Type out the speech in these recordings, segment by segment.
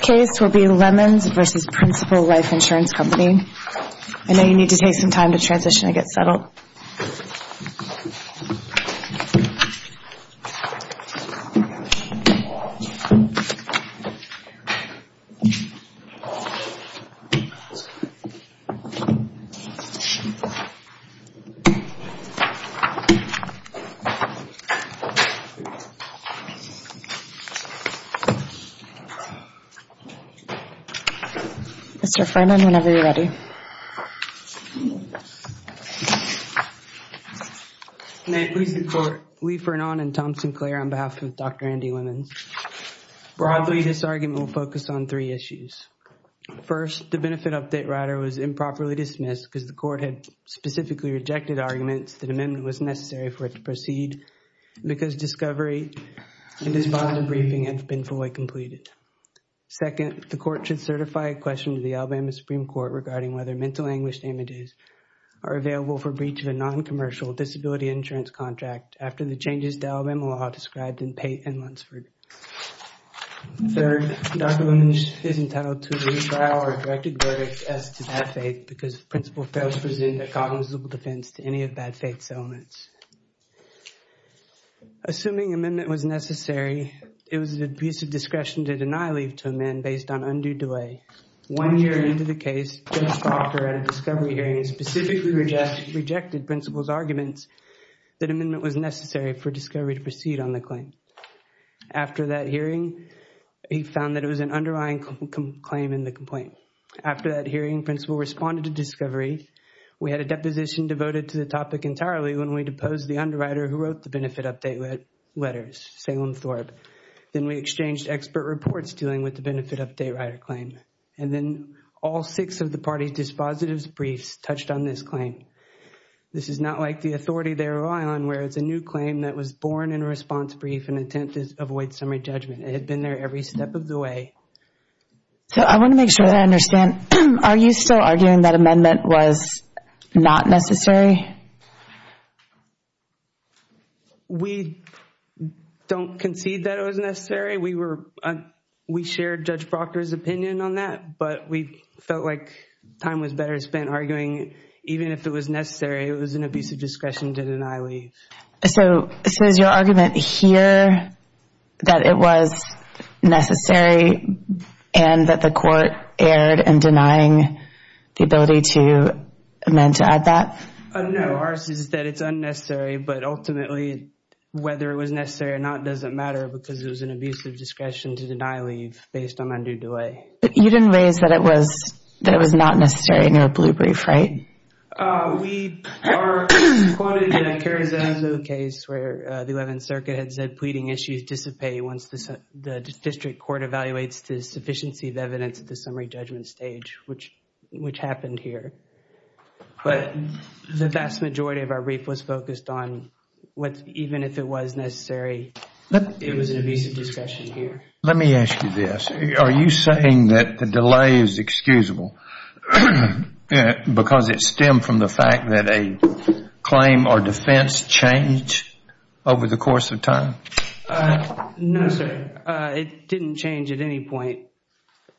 I know you need to take some time to transition and get settled. Mr. Freiman, whenever you're ready. May it please the Court, Lee Frenon and Tom Sinclair on behalf of Dr. Andy Lemons. Broadly, this argument will focus on three issues. First, the benefit update rider was improperly dismissed because the Court had specifically rejected arguments that amendment was necessary for it to proceed because discovery and his bond debriefing have been fully completed. Second, the Court should certify a question to the Alabama Supreme Court regarding whether mental anguish damages are available for breach of a non-commercial disability insurance contract after the changes to Alabama law described in Pate and Lunsford. Third, Dr. Lemons is entitled to a retrial or directed verdict as to bad faith because Principal fails to present a cognizant defense to any of bad faith's elements. Assuming amendment was necessary, it was a piece of discretion to deny leave to a man based on undue delay. One year into the case, Judge Proctor at a discovery hearing specifically rejected Principal's arguments that amendment was necessary for discovery to proceed on the claim. After that hearing, he found that it was an underlying claim in the complaint. After that hearing, Principal responded to discovery. We had a deposition devoted to the topic entirely when we deposed the underwriter who wrote the benefit update letters, Salem Thorpe. Then we exchanged expert reports dealing with the benefit update rider claim. And then all six of the party's dispositive briefs touched on this claim. This is not like the authority they rely on where it's a new claim that was born in a response brief in an attempt to avoid summary judgment. It had been there every step of the way. I want to make sure that I understand. Are you still arguing that amendment was not necessary? We don't concede that it was necessary. We shared Judge Proctor's opinion on that, but we felt like time was better spent arguing even if it was necessary. It was an abuse of discretion to deny leave. So is your argument here that it was necessary and that the court erred in denying the ability to amend to add that? No, ours is that it's unnecessary, but ultimately whether it was necessary or not doesn't matter because it was an abuse of discretion to deny leave based on undue delay. You didn't raise that it was not necessary in your blue brief, right? We are quoted in a Carrizazo case where the Eleventh Circuit had said pleading issues dissipate once the district court evaluates the sufficiency of evidence at the summary judgment stage, which happened here. But the vast majority of our brief was focused on even if it was necessary, it was an abuse of discretion here. Let me ask you this. Are you saying that the delay is excusable because it stemmed from the fact that a claim or defense changed over the course of time? No, sir. It didn't change at any point.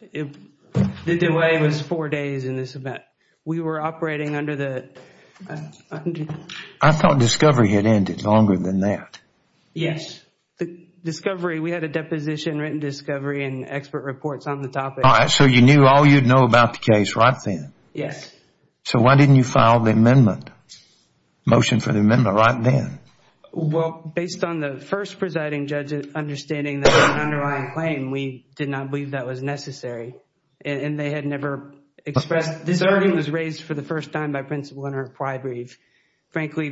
The delay was four days in this event. We were operating under the... I thought discovery had ended longer than that. Yes. We had a deposition, written discovery, and expert reports on the topic. So you knew all you'd know about the case right then? Yes. So why didn't you file the amendment, motion for the amendment right then? Well, based on the first presiding judge's understanding that there was an underlying claim, we did not believe that was necessary. And they had never expressed... This argument was raised for the first time by Principal Leonard Prybrief. Frankly,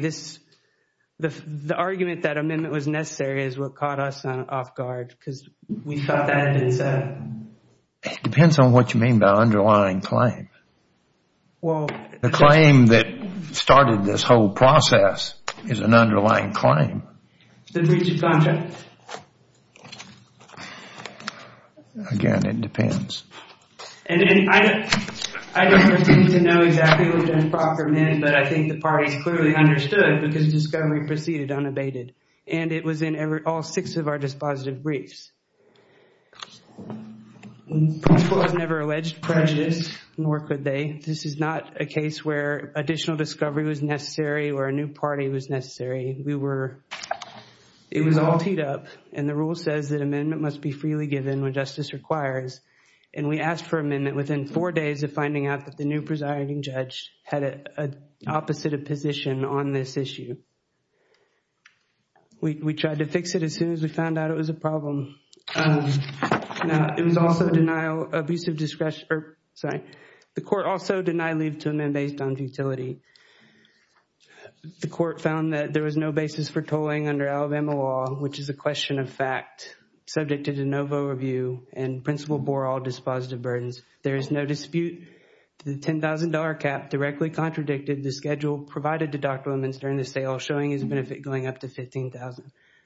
the argument that amendment was necessary is what caught us off guard because we thought that had been said. It depends on what you mean by underlying claim. The claim that started this whole process is an underlying claim. The breach of contract. Again, it depends. I don't pretend to know exactly what Judge Proctor meant, but I think the parties clearly understood because discovery proceeded unabated. And it was in all six of our dispositive briefs. Principal has never alleged prejudice, nor could they. This is not a case where additional discovery was necessary or a new party was necessary. We were... It was all teed up. And the rule says that amendment must be freely given when justice requires. And we asked for amendment within four days of finding out that the new presiding judge had an opposite of position on this issue. We tried to fix it as soon as we found out it was a problem. It was also denial... Abusive discretion... Sorry. The court also denied leave to amend based on futility. The court found that there was no basis for tolling under Alabama law, which is a question of fact. Subject to de novo review, and Principal bore all dispositive burdens. There is no dispute. The $10,000 cap directly contradicted the schedule provided to Dr. LeMunster in the sale, showing his benefit going up to $15,000.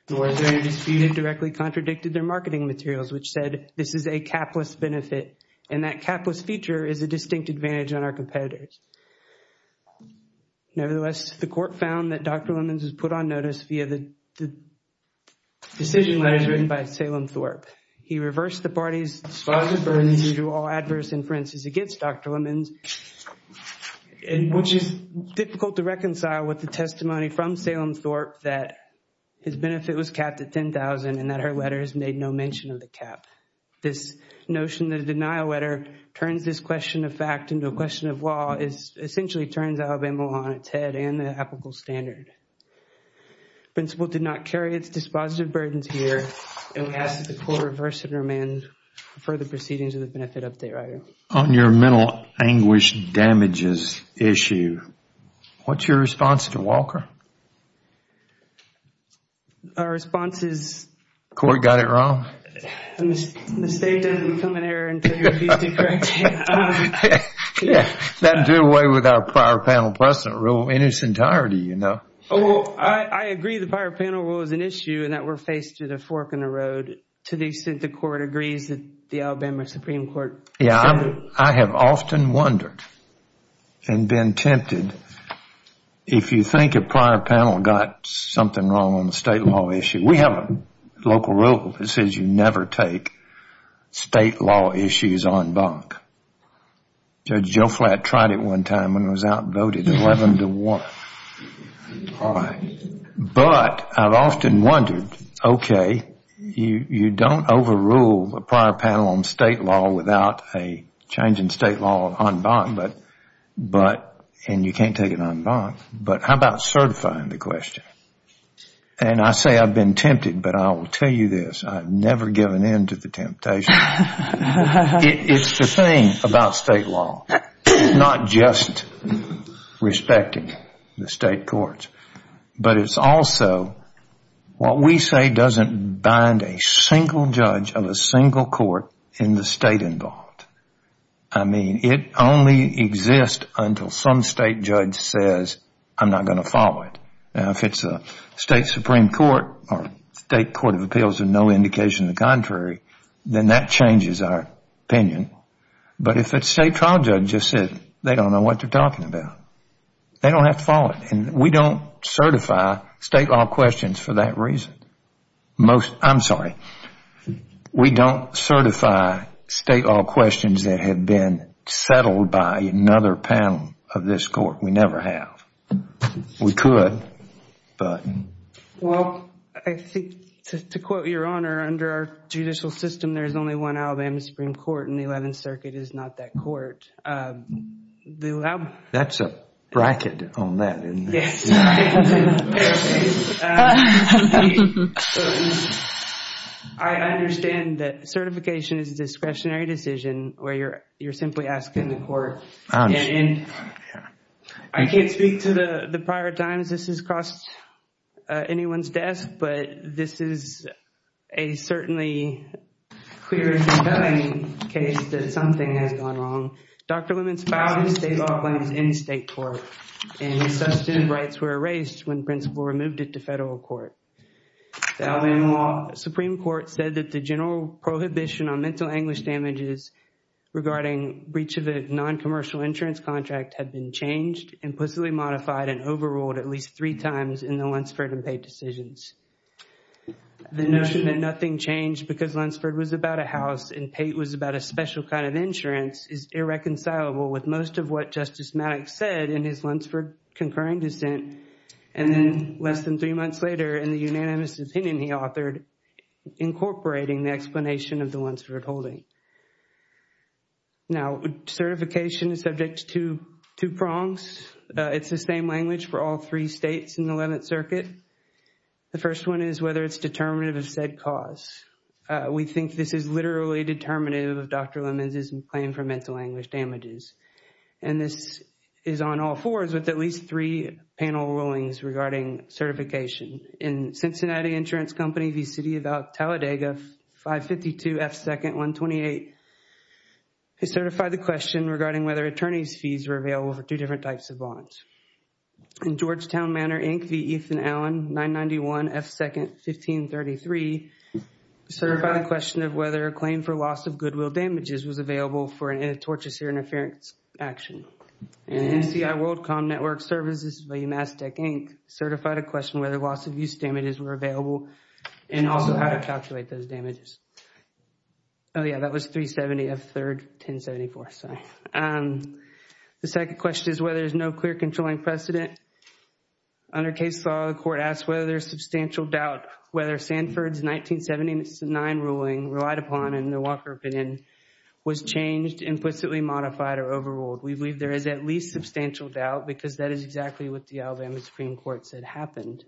Nor is there any dispute that directly contradicted their marketing materials, which said this is a capless benefit. And that capless feature is a distinct advantage on our competitors. Nevertheless, the court found that Dr. LeMunster was put on notice via the decision letters written by Salem Thorpe. He reversed the party's dispositive burdens due to all adverse inferences against Dr. LeMunster, which is difficult to reconcile with the testimony from Salem Thorpe that his benefit was capped at $10,000 and that her letters made no mention of the cap. This notion that a denial letter turns this question of fact into a question of law, essentially turns Alabama law on its head and the applicable standard. Principal did not carry its dispositive burdens here, and we ask that the court reverse and remand further proceedings of the benefit update item. On your mental anguish damages issue, what's your response to Walker? Our response is... The court got it wrong? The state doesn't become an error until you're accused of correcting it. That would do away with our prior panel precedent rule in its entirety, you know. Well, I agree the prior panel rule is an issue and that we're faced with a fork in the road to the extent the court agrees that the Alabama Supreme Court... Yeah, I have often wondered and been tempted, if you think a prior panel got something wrong on the state law issue. We have a local rule that says you never take state law issues en banc. Judge Joe Flatt tried it one time when it was outvoted 11 to 1. But I've often wondered, okay, you don't overrule a prior panel on state law without a change in state law en banc, and you can't take it en banc. But how about certifying the question? And I say I've been tempted, but I will tell you this, I've never given in to the temptation. It's the thing about state law, not just respecting the state courts, but it's also what we say doesn't bind a single judge of a single court in the state involved. I mean, it only exists until some state judge says, I'm not going to follow it. Now, if it's a state supreme court or state court of appeals with no indication of the contrary, then that changes our opinion. But if it's a state trial judge that said they don't know what they're talking about, they don't have to follow it. And we don't certify state law questions for that reason. I'm sorry, we don't certify state law questions that have been settled by another panel of this court. We never have. We could, but. Well, I think, to quote Your Honor, under our judicial system, there's only one Alabama Supreme Court, and the Eleventh Circuit is not that court. That's a bracket on that, isn't it? Yes. I understand that certification is a discretionary decision where you're simply asking the court. I can't speak to the prior times this has crossed anyone's desk, but this is a certainly clear and compelling case that something has gone wrong. Dr. Lemons filed his state law claims in state court, and his substantive rights were erased when the principal removed it to federal court. The Alabama Supreme Court said that the general prohibition on mental anguish damages regarding breach of a non-commercial insurance contract had been changed, implicitly modified, and overruled at least three times in the Lunsford and Pate decisions. The notion that nothing changed because Lunsford was about a house and Pate was about a special kind of insurance is irreconcilable with most of what Justice Maddox said in his Lunsford concurring dissent, and then less than three months later, in the unanimous opinion he authored, incorporating the explanation of the Lunsford holding. Now, certification is subject to two prongs. It's the same language for all three states in the 11th Circuit. The first one is whether it's determinative of said cause. We think this is literally determinative of Dr. Lemons' claim for mental anguish damages, and this is on all fours with at least three panel rulings regarding certification. In Cincinnati Insurance Company v. City of Talladega 552 F. 2nd 128, they certify the question regarding whether attorney's fees were available for two different types of bonds. In Georgetown Manor, Inc. v. Ethan Allen 991 F. 2nd 1533, they certify the question of whether a claim for loss of goodwill damages was available for a tortuous interference action. In NCI WorldCom Network Services v. UMass Tech, Inc., they certify the question whether loss of use damages were available and also how to calculate those damages. Oh yeah, that was 370 F. 3rd 1074, sorry. The second question is whether there's no clear controlling precedent. Under case law, the court asks whether there's substantial doubt whether Sanford's 1979 ruling relied upon in the Walker opinion was changed, implicitly modified, or overruled. We believe there is at least substantial doubt because that is exactly what the Alabama Supreme Court said happened.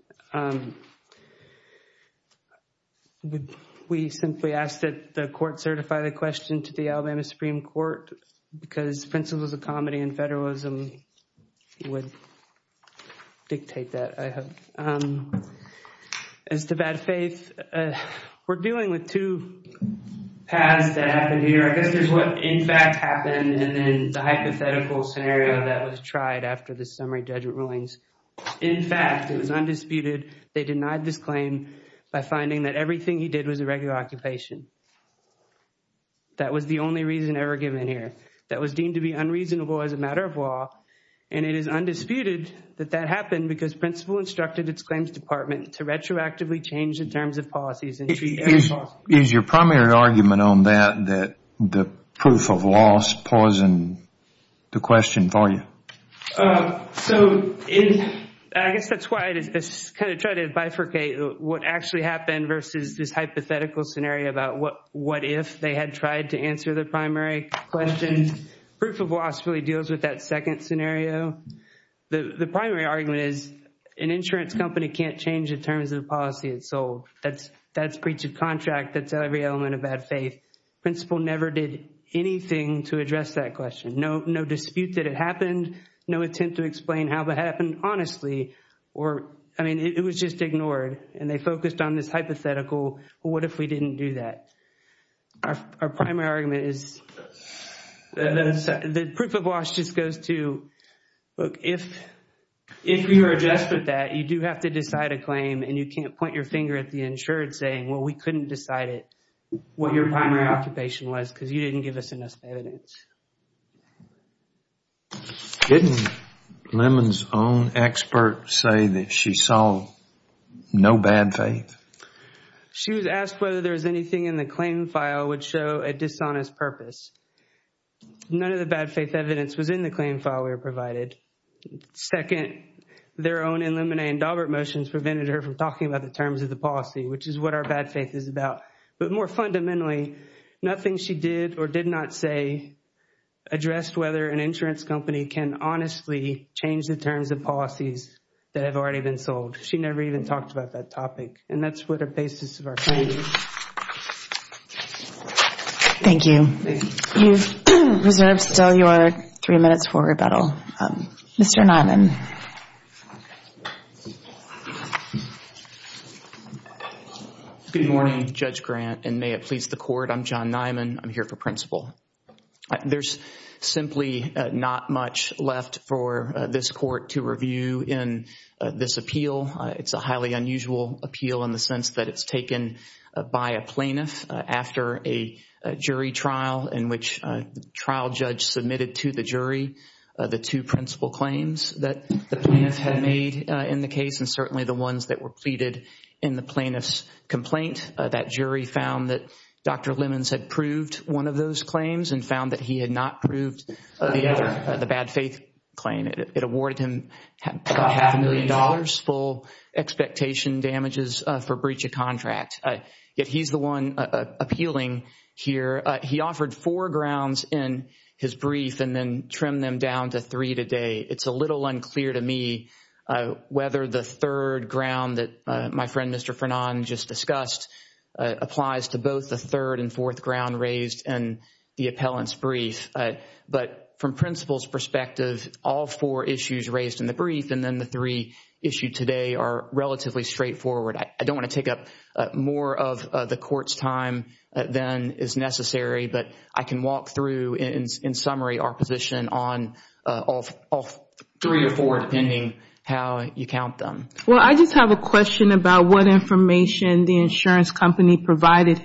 We simply ask that the court certify the question to the Alabama Supreme Court because principles of comedy and federalism would dictate that, I hope. As to bad faith, we're dealing with two paths that happened here. I guess there's what in fact happened and then the hypothetical scenario that was tried after the summary judgment rulings. In fact, it was undisputed they denied this claim by finding that everything he did was a regular occupation. That was the only reason ever given here. That was deemed to be unreasonable as a matter of law and it is undisputed that that happened because principle instructed its claims department to retroactively change the terms of policies. Is your primary argument on that that the proof of loss poisoned the question for you? I guess that's why I try to bifurcate what actually happened versus this hypothetical scenario about what if they had tried to answer the primary question. Proof of loss really deals with that second scenario. The primary argument is an insurance company can't change the terms of the policy it sold. That's breach of contract. That's every element of bad faith. Principle never did anything to address that question. No dispute that it happened. No attempt to explain how it happened honestly. I mean, it was just ignored and they focused on this hypothetical what if we didn't do that. Our primary argument is the proof of loss just goes to if you are addressed with that, you do have to decide a claim and you can't point your finger at the insurance saying, well, we couldn't decide it, what your primary occupation was because you didn't give us enough evidence. Didn't Lemon's own expert say that she saw no bad faith? She was asked whether there was anything in the claim file which showed a dishonest purpose. None of the bad faith evidence was in the claim file we were provided. Second, their own Illuminae and Daubert motions prevented her from talking about the terms of the policy which is what our bad faith is about. But more fundamentally, nothing she did or did not say addressed whether an insurance company can honestly change the terms of policies that have already been sold. She never even talked about that topic. And that's what the basis of our claim is. Thank you. You've reserved still your three minutes for rebuttal. Mr. Nyman. Good morning, Judge Grant. And may it please the court, I'm John Nyman. I'm here for principle. There's simply not much left for this court to review in this appeal. It's a highly unusual appeal in the sense that it's taken by a plaintiff after a jury trial in which a trial judge submitted to the jury the two principle claims that the plaintiff had made in the case and certainly the ones that were pleaded in the plaintiff's complaint. That jury found that Dr. Lemons had proved one of those claims and found that he had not proved the other, It awarded him half a million dollars full expectation damages for breach of contract. Yet he's the one appealing here. He offered four grounds in his brief and then trimmed them down to three today. It's a little unclear to me whether the third ground that my friend Mr. Frenon just discussed applies to both the third and fourth ground raised in the appellant's brief. But from principle's perspective, all four issues raised in the brief and then the three issued today are relatively straightforward. I don't want to take up more of the court's time than is necessary, but I can walk through, in summary, our position on all three or four depending how you count them. Well, I just have a question about what information the insurance company provided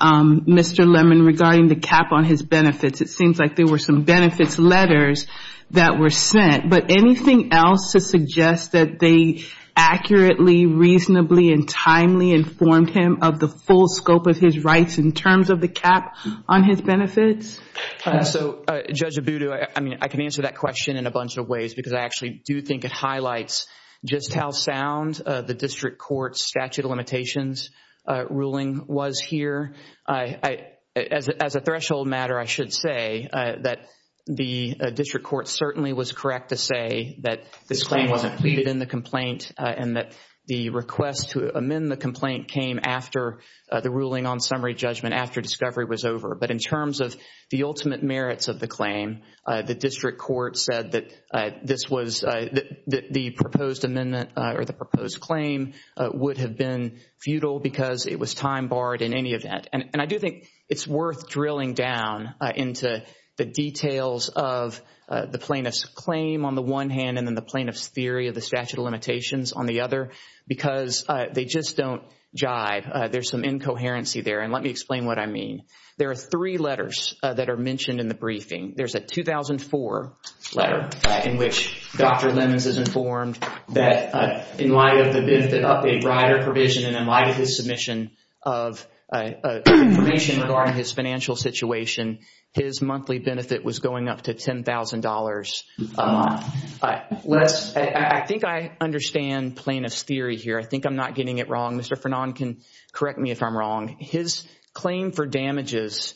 Mr. Lemon regarding the cap on his benefits. It seems like there were some benefits letters that were sent, but anything else to suggest that they accurately, reasonably, and timely informed him of the full scope of his rights in terms of the cap on his benefits? So, Judge Abudu, I mean, I can answer that question in a bunch of ways because I actually do think it highlights just how sound the district court's statute of limitations ruling was here. As a threshold matter, I should say that the district court certainly was correct to say that this claim wasn't pleaded in the complaint and that the request to amend the complaint came after the ruling on summary judgment after discovery was over. But in terms of the ultimate merits of the claim, the district court said that this was, that the proposed amendment or the proposed claim would have been futile because it was time barred in any event. And I do think it's worth drilling down into the details of the plaintiff's claim on the one hand and then the plaintiff's theory of the statute of limitations on the other because they just don't jive. There's some incoherency there. And let me explain what I mean. There are three letters that are mentioned in the briefing. There's a 2004 letter in which Dr. Lemons is informed that in light of the benefit update rider provision and in light of his submission of information regarding his financial situation, his monthly benefit was going up to $10,000 a month. I think I understand plaintiff's theory here. I think I'm not getting it wrong. Mr. Fernand can correct me if I'm wrong. His claim for damages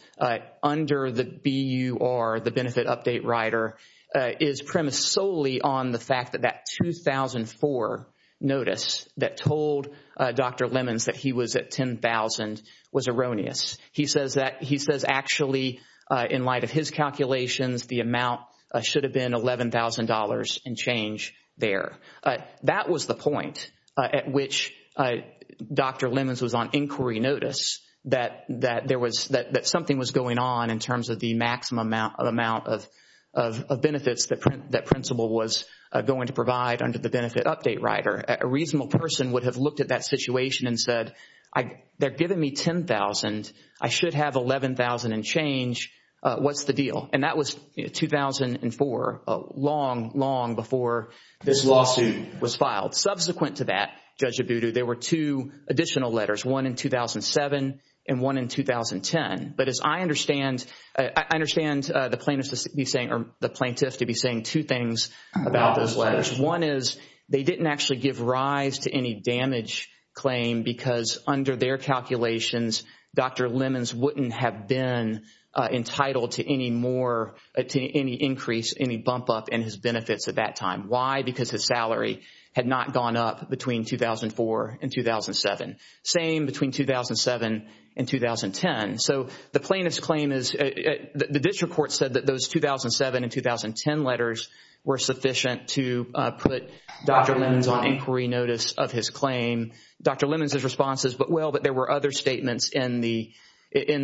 under the BUR, the benefit update rider, is premised solely on the fact that that 2004 notice that told Dr. Lemons that he was at $10,000 was erroneous. He says actually in light of his calculations, the amount should have been $11,000 and change there. That was the point at which Dr. Lemons was on inquiry notice that something was going on in terms of the maximum amount of benefits that principal was going to provide under the benefit update rider. A reasonable person would have looked at that situation and said, they're giving me $10,000. I should have $11,000 and change. What's the deal? And that was 2004, long, long before this lawsuit was filed. Subsequent to that, Judge Abudu, there were two additional letters, one in 2007 and one in 2010. But as I understand, I understand the plaintiff to be saying two things about those letters. One is they didn't actually give rise to any damage claim because under their calculations, Dr. Lemons wouldn't have been entitled to any increase, any bump up in his benefits at that time. Why? Because his salary had not gone up between 2004 and 2007. Same between 2007 and 2010. So the plaintiff's claim is the district court said that those 2007 and 2010 letters were sufficient to put Dr. Lemons on inquiry notice of his claim. Dr. Lemons' response is, well, but there were other statements in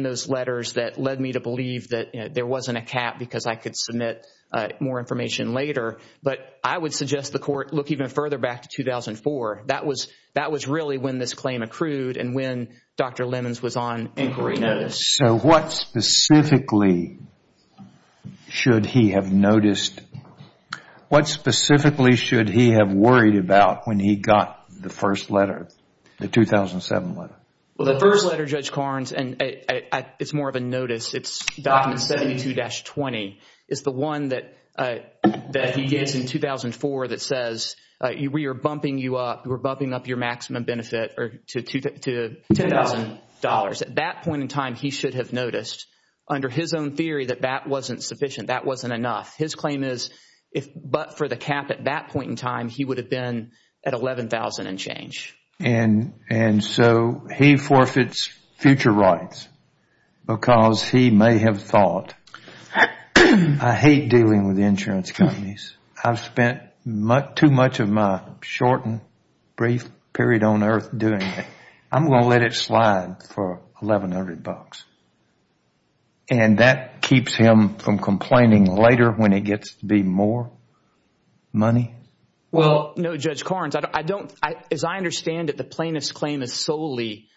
those letters that led me to believe that there wasn't a cap because I could submit more information later. But I would suggest the court look even further back to 2004. That was really when this claim accrued and when Dr. Lemons was on inquiry notice. So what specifically should he have noticed? What specifically should he have worried about when he got the first letter, the 2007 letter? Well, the first letter, Judge Carnes, and it's more of a notice. It's document 72-20. It's the one that he gets in 2004 that says we are bumping you up, we're bumping up your maximum benefit to $10,000. At that point in time, he should have noticed under his own theory that that wasn't sufficient, that wasn't enough. His claim is, but for the cap at that point in time, he would have been at $11,000 and change. And so he forfeits future rights because he may have thought, I hate dealing with insurance companies. I've spent too much of my short and brief period on earth doing it. I'm going to let it slide for $1,100. And that keeps him from complaining later when he gets to be more money? Well, no, Judge Carnes, as I understand it, the plaintiff's claim is solely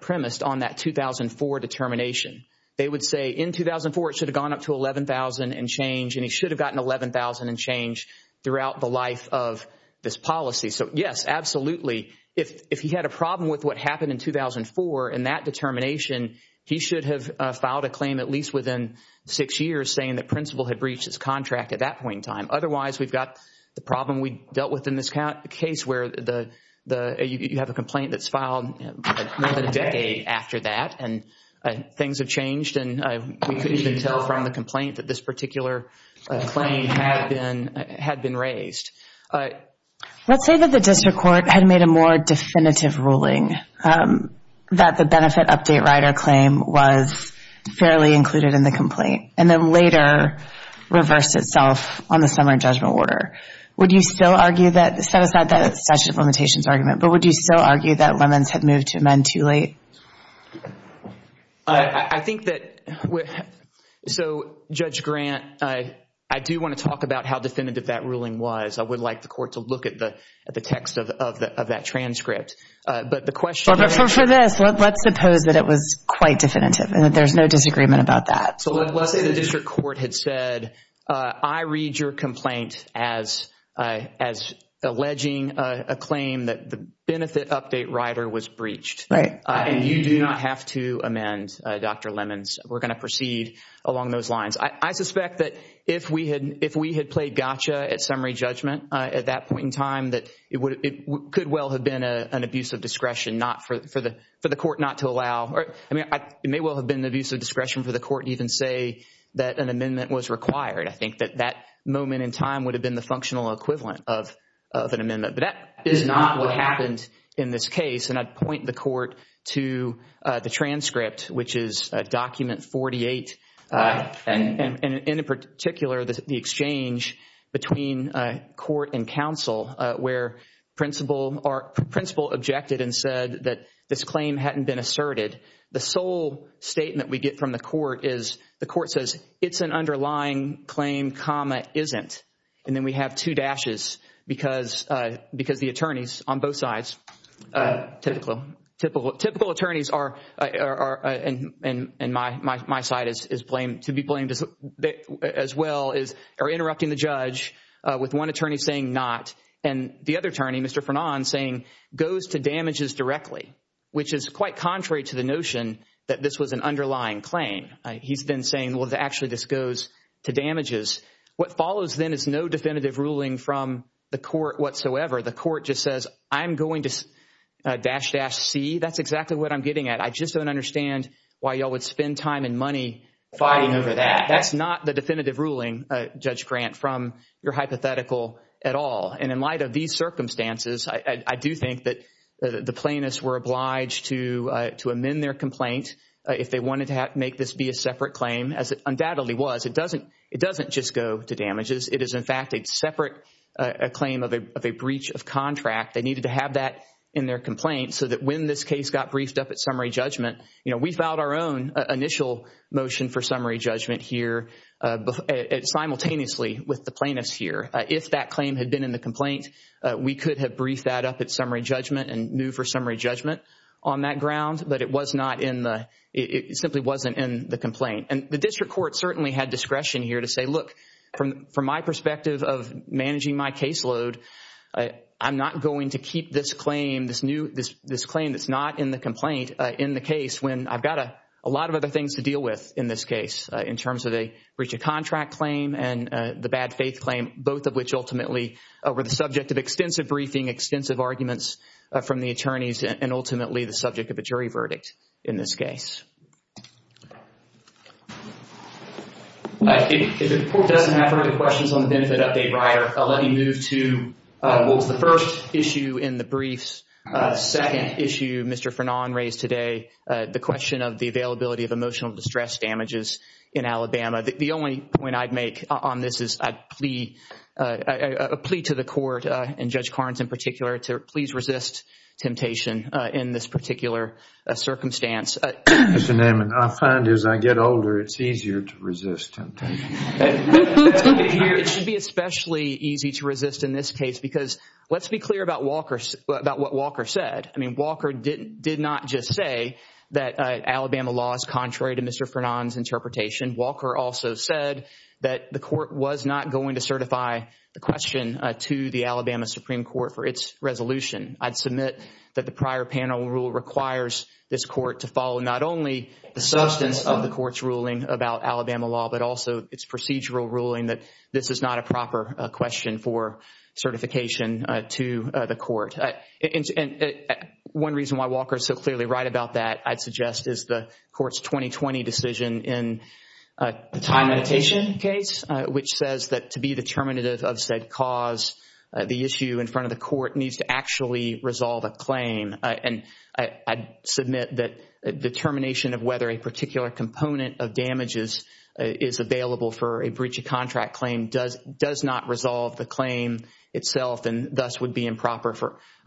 premised on that 2004 determination. They would say in 2004 it should have gone up to $11,000 and change, and he should have gotten $11,000 and change throughout the life of this policy. So, yes, absolutely. If he had a problem with what happened in 2004 in that determination, he should have filed a claim at least within six years saying the principal had breached his contract at that point in time. Otherwise, we've got the problem we dealt with in this case where you have a complaint that's filed more than a decade after that and things have changed and we couldn't even tell from the complaint that this particular claim had been raised. Let's say that the district court had made a more definitive ruling that the benefit update rider claim was fairly included in the complaint and then later reversed itself on the summary judgment order. Would you still argue that – set aside the statute of limitations argument, but would you still argue that Lemons had moved to amend too late? I think that – so, Judge Grant, I do want to talk about how definitive that ruling was. I would like the court to look at the text of that transcript. But the question is – For this, let's suppose that it was quite definitive and that there's no disagreement about that. So, let's say the district court had said, I read your complaint as alleging a claim that the benefit update rider was breached. Right. And you do not have to amend, Dr. Lemons. We're going to proceed along those lines. I suspect that if we had played gotcha at summary judgment at that point in time, that it could well have been an abuse of discretion for the court not to allow – I mean, it may well have been an abuse of discretion for the court to even say that an amendment was required. I think that that moment in time would have been the functional equivalent of an amendment. But that is not what happened in this case. And I'd point the court to the transcript, which is document 48. And in particular, the exchange between court and counsel where principal objected and said that this claim hadn't been asserted. The sole statement we get from the court is the court says, it's an underlying claim, comma, isn't. And then we have two dashes because the attorneys on both sides, typical attorneys are, and my side is blamed as well, are interrupting the judge with one attorney saying not and the other attorney, Mr. Frenon, saying goes to damages directly, which is quite contrary to the notion that this was an underlying claim. He's then saying, well, actually this goes to damages. What follows then is no definitive ruling from the court whatsoever. The court just says, I'm going to dash dash C. That's exactly what I'm getting at. I just don't understand why you all would spend time and money fighting over that. That's not the definitive ruling, Judge Grant, from your hypothetical at all. And in light of these circumstances, I do think that the plaintiffs were obliged to amend their complaint if they wanted to make this be a separate claim, as it undoubtedly was. It doesn't just go to damages. It is, in fact, a separate claim of a breach of contract. They needed to have that in their complaint so that when this case got briefed up at summary judgment, we filed our own initial motion for summary judgment here simultaneously with the plaintiffs here. If that claim had been in the complaint, we could have briefed that up at summary judgment but it simply wasn't in the complaint. And the district court certainly had discretion here to say, look, from my perspective of managing my caseload, I'm not going to keep this claim that's not in the complaint in the case when I've got a lot of other things to deal with in this case in terms of a breach of contract claim and the bad faith claim, both of which ultimately were the subject of extensive briefing, extensive arguments from the attorneys, and ultimately the subject of a jury verdict in this case. If the court doesn't have any questions on the benefit update, Ryer, I'll let you move to what was the first issue in the briefs, second issue Mr. Fernand raised today, the question of the availability of emotional distress damages in Alabama. The only point I'd make on this is I'd plea to the court, and Judge Carnes in particular, to please resist temptation in this particular circumstance. Mr. Naaman, I find as I get older, it's easier to resist temptation. It should be especially easy to resist in this case because let's be clear about what Walker said. I mean, Walker did not just say that Alabama law is contrary to Mr. Fernand's interpretation. Walker also said that the court was not going to certify the question to the Alabama Supreme Court for its resolution. I'd submit that the prior panel rule requires this court to follow not only the substance of the court's ruling about Alabama law, but also its procedural ruling that this is not a proper question for certification to the court. One reason why Walker is so clearly right about that, I'd suggest, is the court's 2020 decision in the time limitation case, which says that to be determinative of said cause, the issue in front of the court needs to actually resolve a claim. And I'd submit that determination of whether a particular component of damages is available for a breach of contract claim does not resolve the claim itself and thus would be improper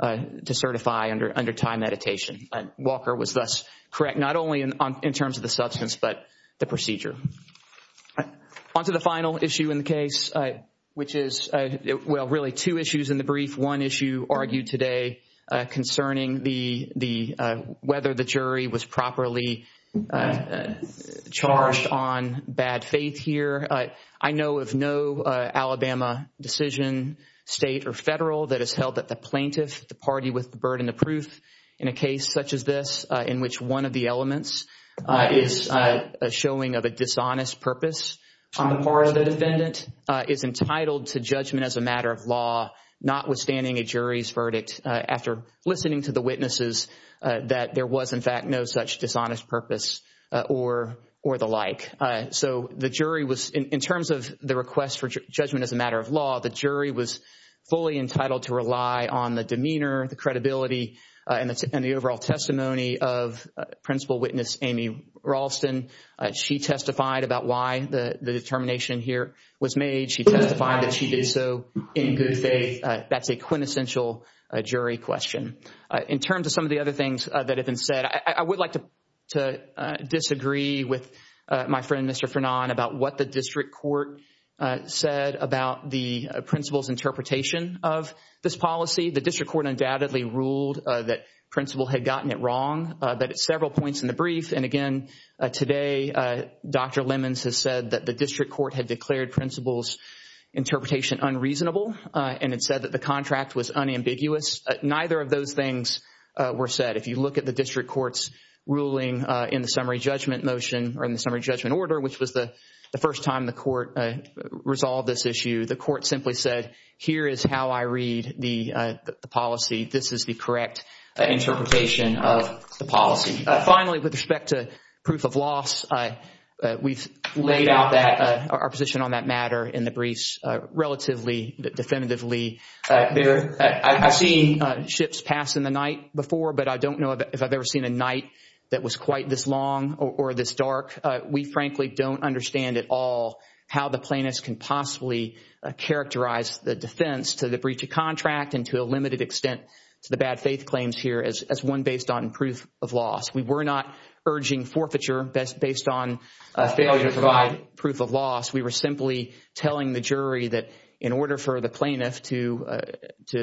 to certify under time limitation. Walker was thus correct, not only in terms of the substance, but the procedure. Onto the final issue in the case, which is really two issues in the brief. One issue argued today concerning whether the jury was properly charged on bad faith here. I know of no Alabama decision, state or federal, that has held that the plaintiff, the party with the burden of proof in a case such as this, in which one of the elements is a showing of a dishonest purpose on the part of the defendant, is entitled to judgment as a matter of law, notwithstanding a jury's verdict after listening to the witnesses that there was, in fact, no such dishonest purpose or the like. So the jury was, in terms of the request for judgment as a matter of law, the jury was fully entitled to rely on the demeanor, the credibility, and the overall testimony of principal witness Amy Ralston. She testified about why the determination here was made. She testified that she did so in good faith. That's a quintessential jury question. In terms of some of the other things that have been said, I would like to disagree with my friend, Mr. Frenon, about what the district court said about the principal's interpretation of this policy. The district court undoubtedly ruled that principal had gotten it wrong, but at several points in the brief, and again, today, Dr. Lemons has said that the district court had declared principal's interpretation unreasonable and had said that the contract was unambiguous. Neither of those things were said. If you look at the district court's ruling in the summary judgment motion or in the summary judgment order, which was the first time the court resolved this issue, the court simply said, here is how I read the policy. This is the correct interpretation of the policy. Finally, with respect to proof of loss, we've laid out our position on that matter in the briefs relatively definitively. I've seen ships pass in the night before, but I don't know if I've ever seen a night that was quite this long or this dark. We, frankly, don't understand at all how the plaintiffs can possibly characterize the defense to the breach of contract and to a limited extent to the bad faith claims here as one based on proof of loss. We were not urging forfeiture based on failure to provide proof of loss. We were simply telling the jury that in order for the plaintiff to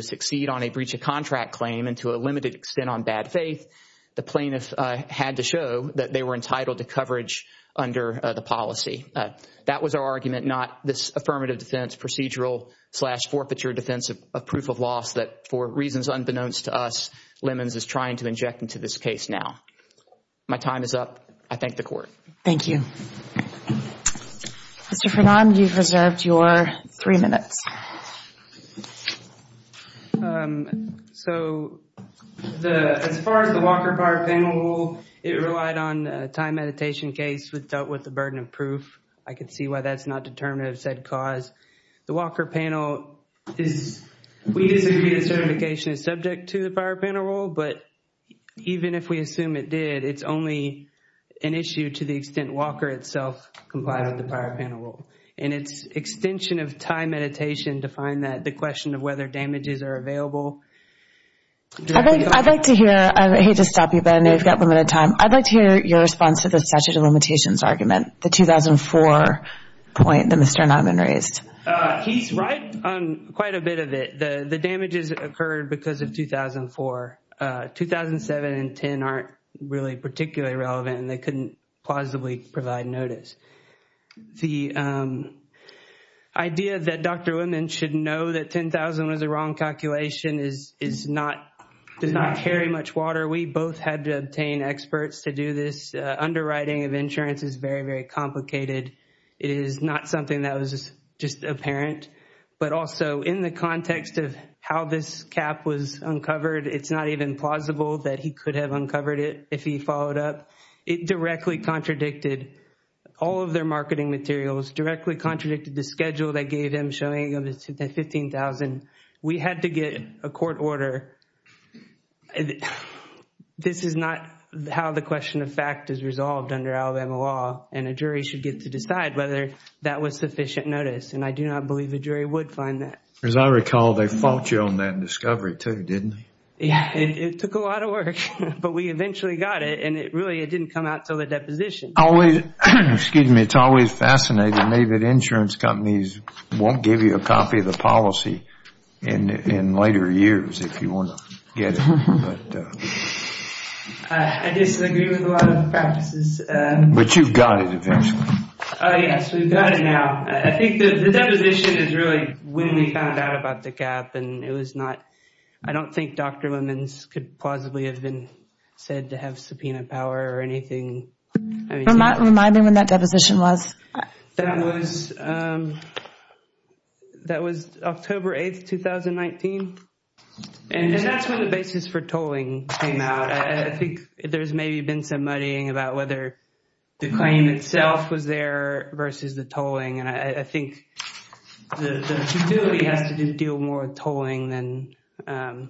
succeed on a breach of contract claim and to a limited extent on bad faith, the plaintiff had to show that they were entitled to coverage under the policy. That was our argument, not this affirmative defense procedural slash forfeiture defense of proof of loss that for reasons unbeknownst to us, Lemons is trying to inject into this case now. My time is up. I thank the court. Thank you. Mr. Frenon, you've reserved your three minutes. So as far as the Walker Power Panel rule, it relied on a time meditation case dealt with the burden of proof. I can see why that's not determinative of said cause. The Walker Panel, we disagree that certification is subject to the Power Panel rule, but even if we assume it did, it's only an issue to the extent Walker itself complied with the Power Panel rule. And it's extension of time meditation to find that the question of whether damages are available. I'd like to hear, I hate to stop you, but I know you've got limited time. I'd like to hear your response to the statute of limitations argument, the 2004 point that Mr. Niman raised. He's right on quite a bit of it. The damages occurred because of 2004. 2007 and 2010 aren't really particularly relevant, and they couldn't plausibly provide notice. The idea that Dr. Liman should know that 10,000 was a wrong calculation is not, does not carry much water. We both had to obtain experts to do this. Underwriting of insurance is very, very complicated. It is not something that was just apparent, but also in the context of how this cap was uncovered, it's not even plausible that he could have uncovered it if he followed up. It directly contradicted all of their marketing materials, directly contradicted the schedule they gave him showing that 15,000. We had to get a court order. This is not how the question of fact is resolved under Alabama law, and a jury should get to decide whether that was sufficient notice, and I do not believe a jury would find that. As I recall, they fault you on that discovery too, didn't they? Yeah, it took a lot of work, but we eventually got it, and really it didn't come out until the deposition. Excuse me, it's always fascinating to me that insurance companies won't give you a copy of the policy in later years if you want to get it. I disagree with a lot of practices. But you've got it eventually. Yes, we've got it now. I think the deposition is really when we found out about the gap, and it was not, I don't think Dr. Liman could plausibly have been said to have subpoena power or anything. Remind me when that deposition was. That was October 8, 2019, and that's when the basis for tolling came out. I think there's maybe been some muddying about whether the claim itself was there versus the tolling, and I think the utility has to deal more with tolling than... As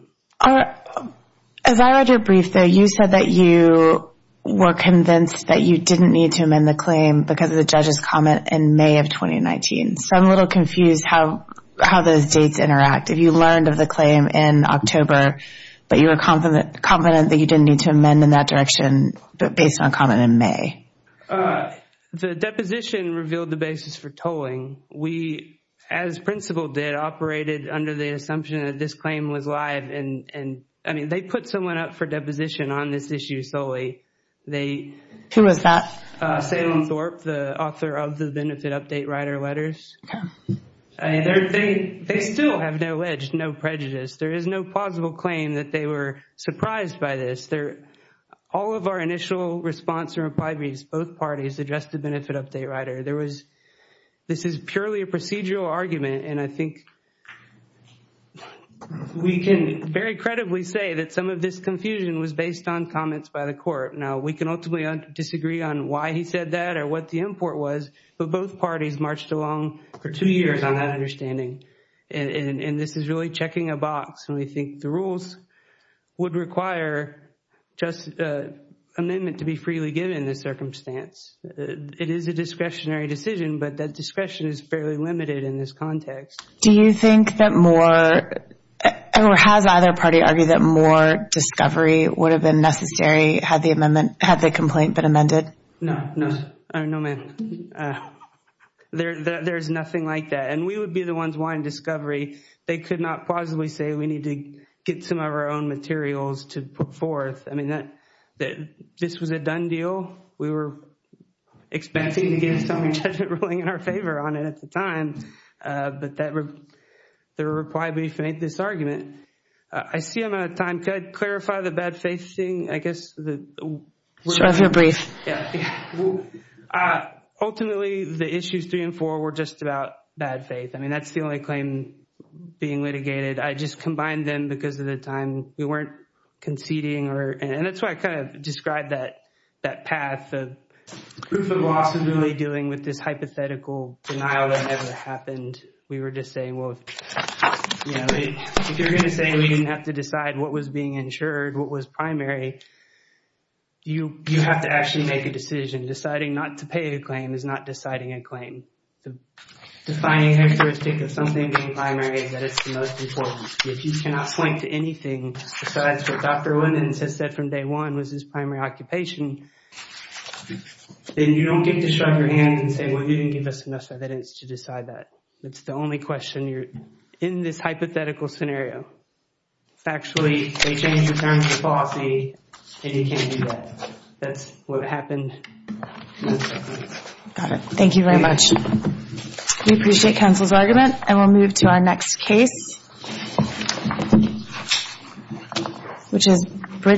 I read your brief there, you said that you were convinced that you didn't need to amend the claim because of the judge's comment in May of 2019. So I'm a little confused how those dates interact. Have you learned of the claim in October, but you were confident that you didn't need to amend in that direction based on a comment in May? The deposition revealed the basis for tolling. We, as principal did, operated under the assumption that this claim was live and they put someone up for deposition on this issue solely. Who was that? Salem Thorpe, the author of the Benefit Update Rider letters. They still have no ledge, no prejudice. There is no plausible claim that they were surprised by this. All of our initial response or reply briefs, both parties addressed the Benefit Update Rider. This is purely a procedural argument, and I think we can very credibly say that some of this confusion was based on comments by the court. Now, we can ultimately disagree on why he said that or what the import was, but both parties marched along for two years on that understanding, and this is really checking a box, and we think the rules would require just an amendment to be freely given in this circumstance. It is a discretionary decision, but that discretion is fairly limited in this context. Do you think that more, or has either party argued that more discovery would have been necessary had the complaint been amended? No. No, ma'am. There is nothing like that, and we would be the ones wanting discovery. They could not plausibly say we need to get some of our own materials to put forth. I mean, this was a done deal. We were expecting to get a summary judgment ruling in our favor on it at the time, but the reply brief made this argument. I see I'm out of time. Could I clarify the bad faith thing? I guess the – Sure, if you're brief. Yeah. Ultimately, the issues three and four were just about bad faith. I mean, that's the only claim being litigated. I just combined them because of the time we weren't conceding, and that's why I kind of described that path of proof of loss is really dealing with this hypothetical denial that never happened. We were just saying, well, if you're going to say we didn't have to decide what was being insured, what was primary, you have to actually make a decision. Deciding not to pay a claim is not deciding a claim. Defining a heuristic of something being primary is that it's the most important. If you cannot point to anything besides what Dr. Winans has said from day one was his primary occupation, then you don't get to shrug your hands and say, well, you didn't give us enough evidence to decide that. That's the only question in this hypothetical scenario. Actually, they changed the terms of the policy, and you can't do that. That's what happened. Thank you very much. We appreciate counsel's argument, and we'll move to our next case, which is Bridget.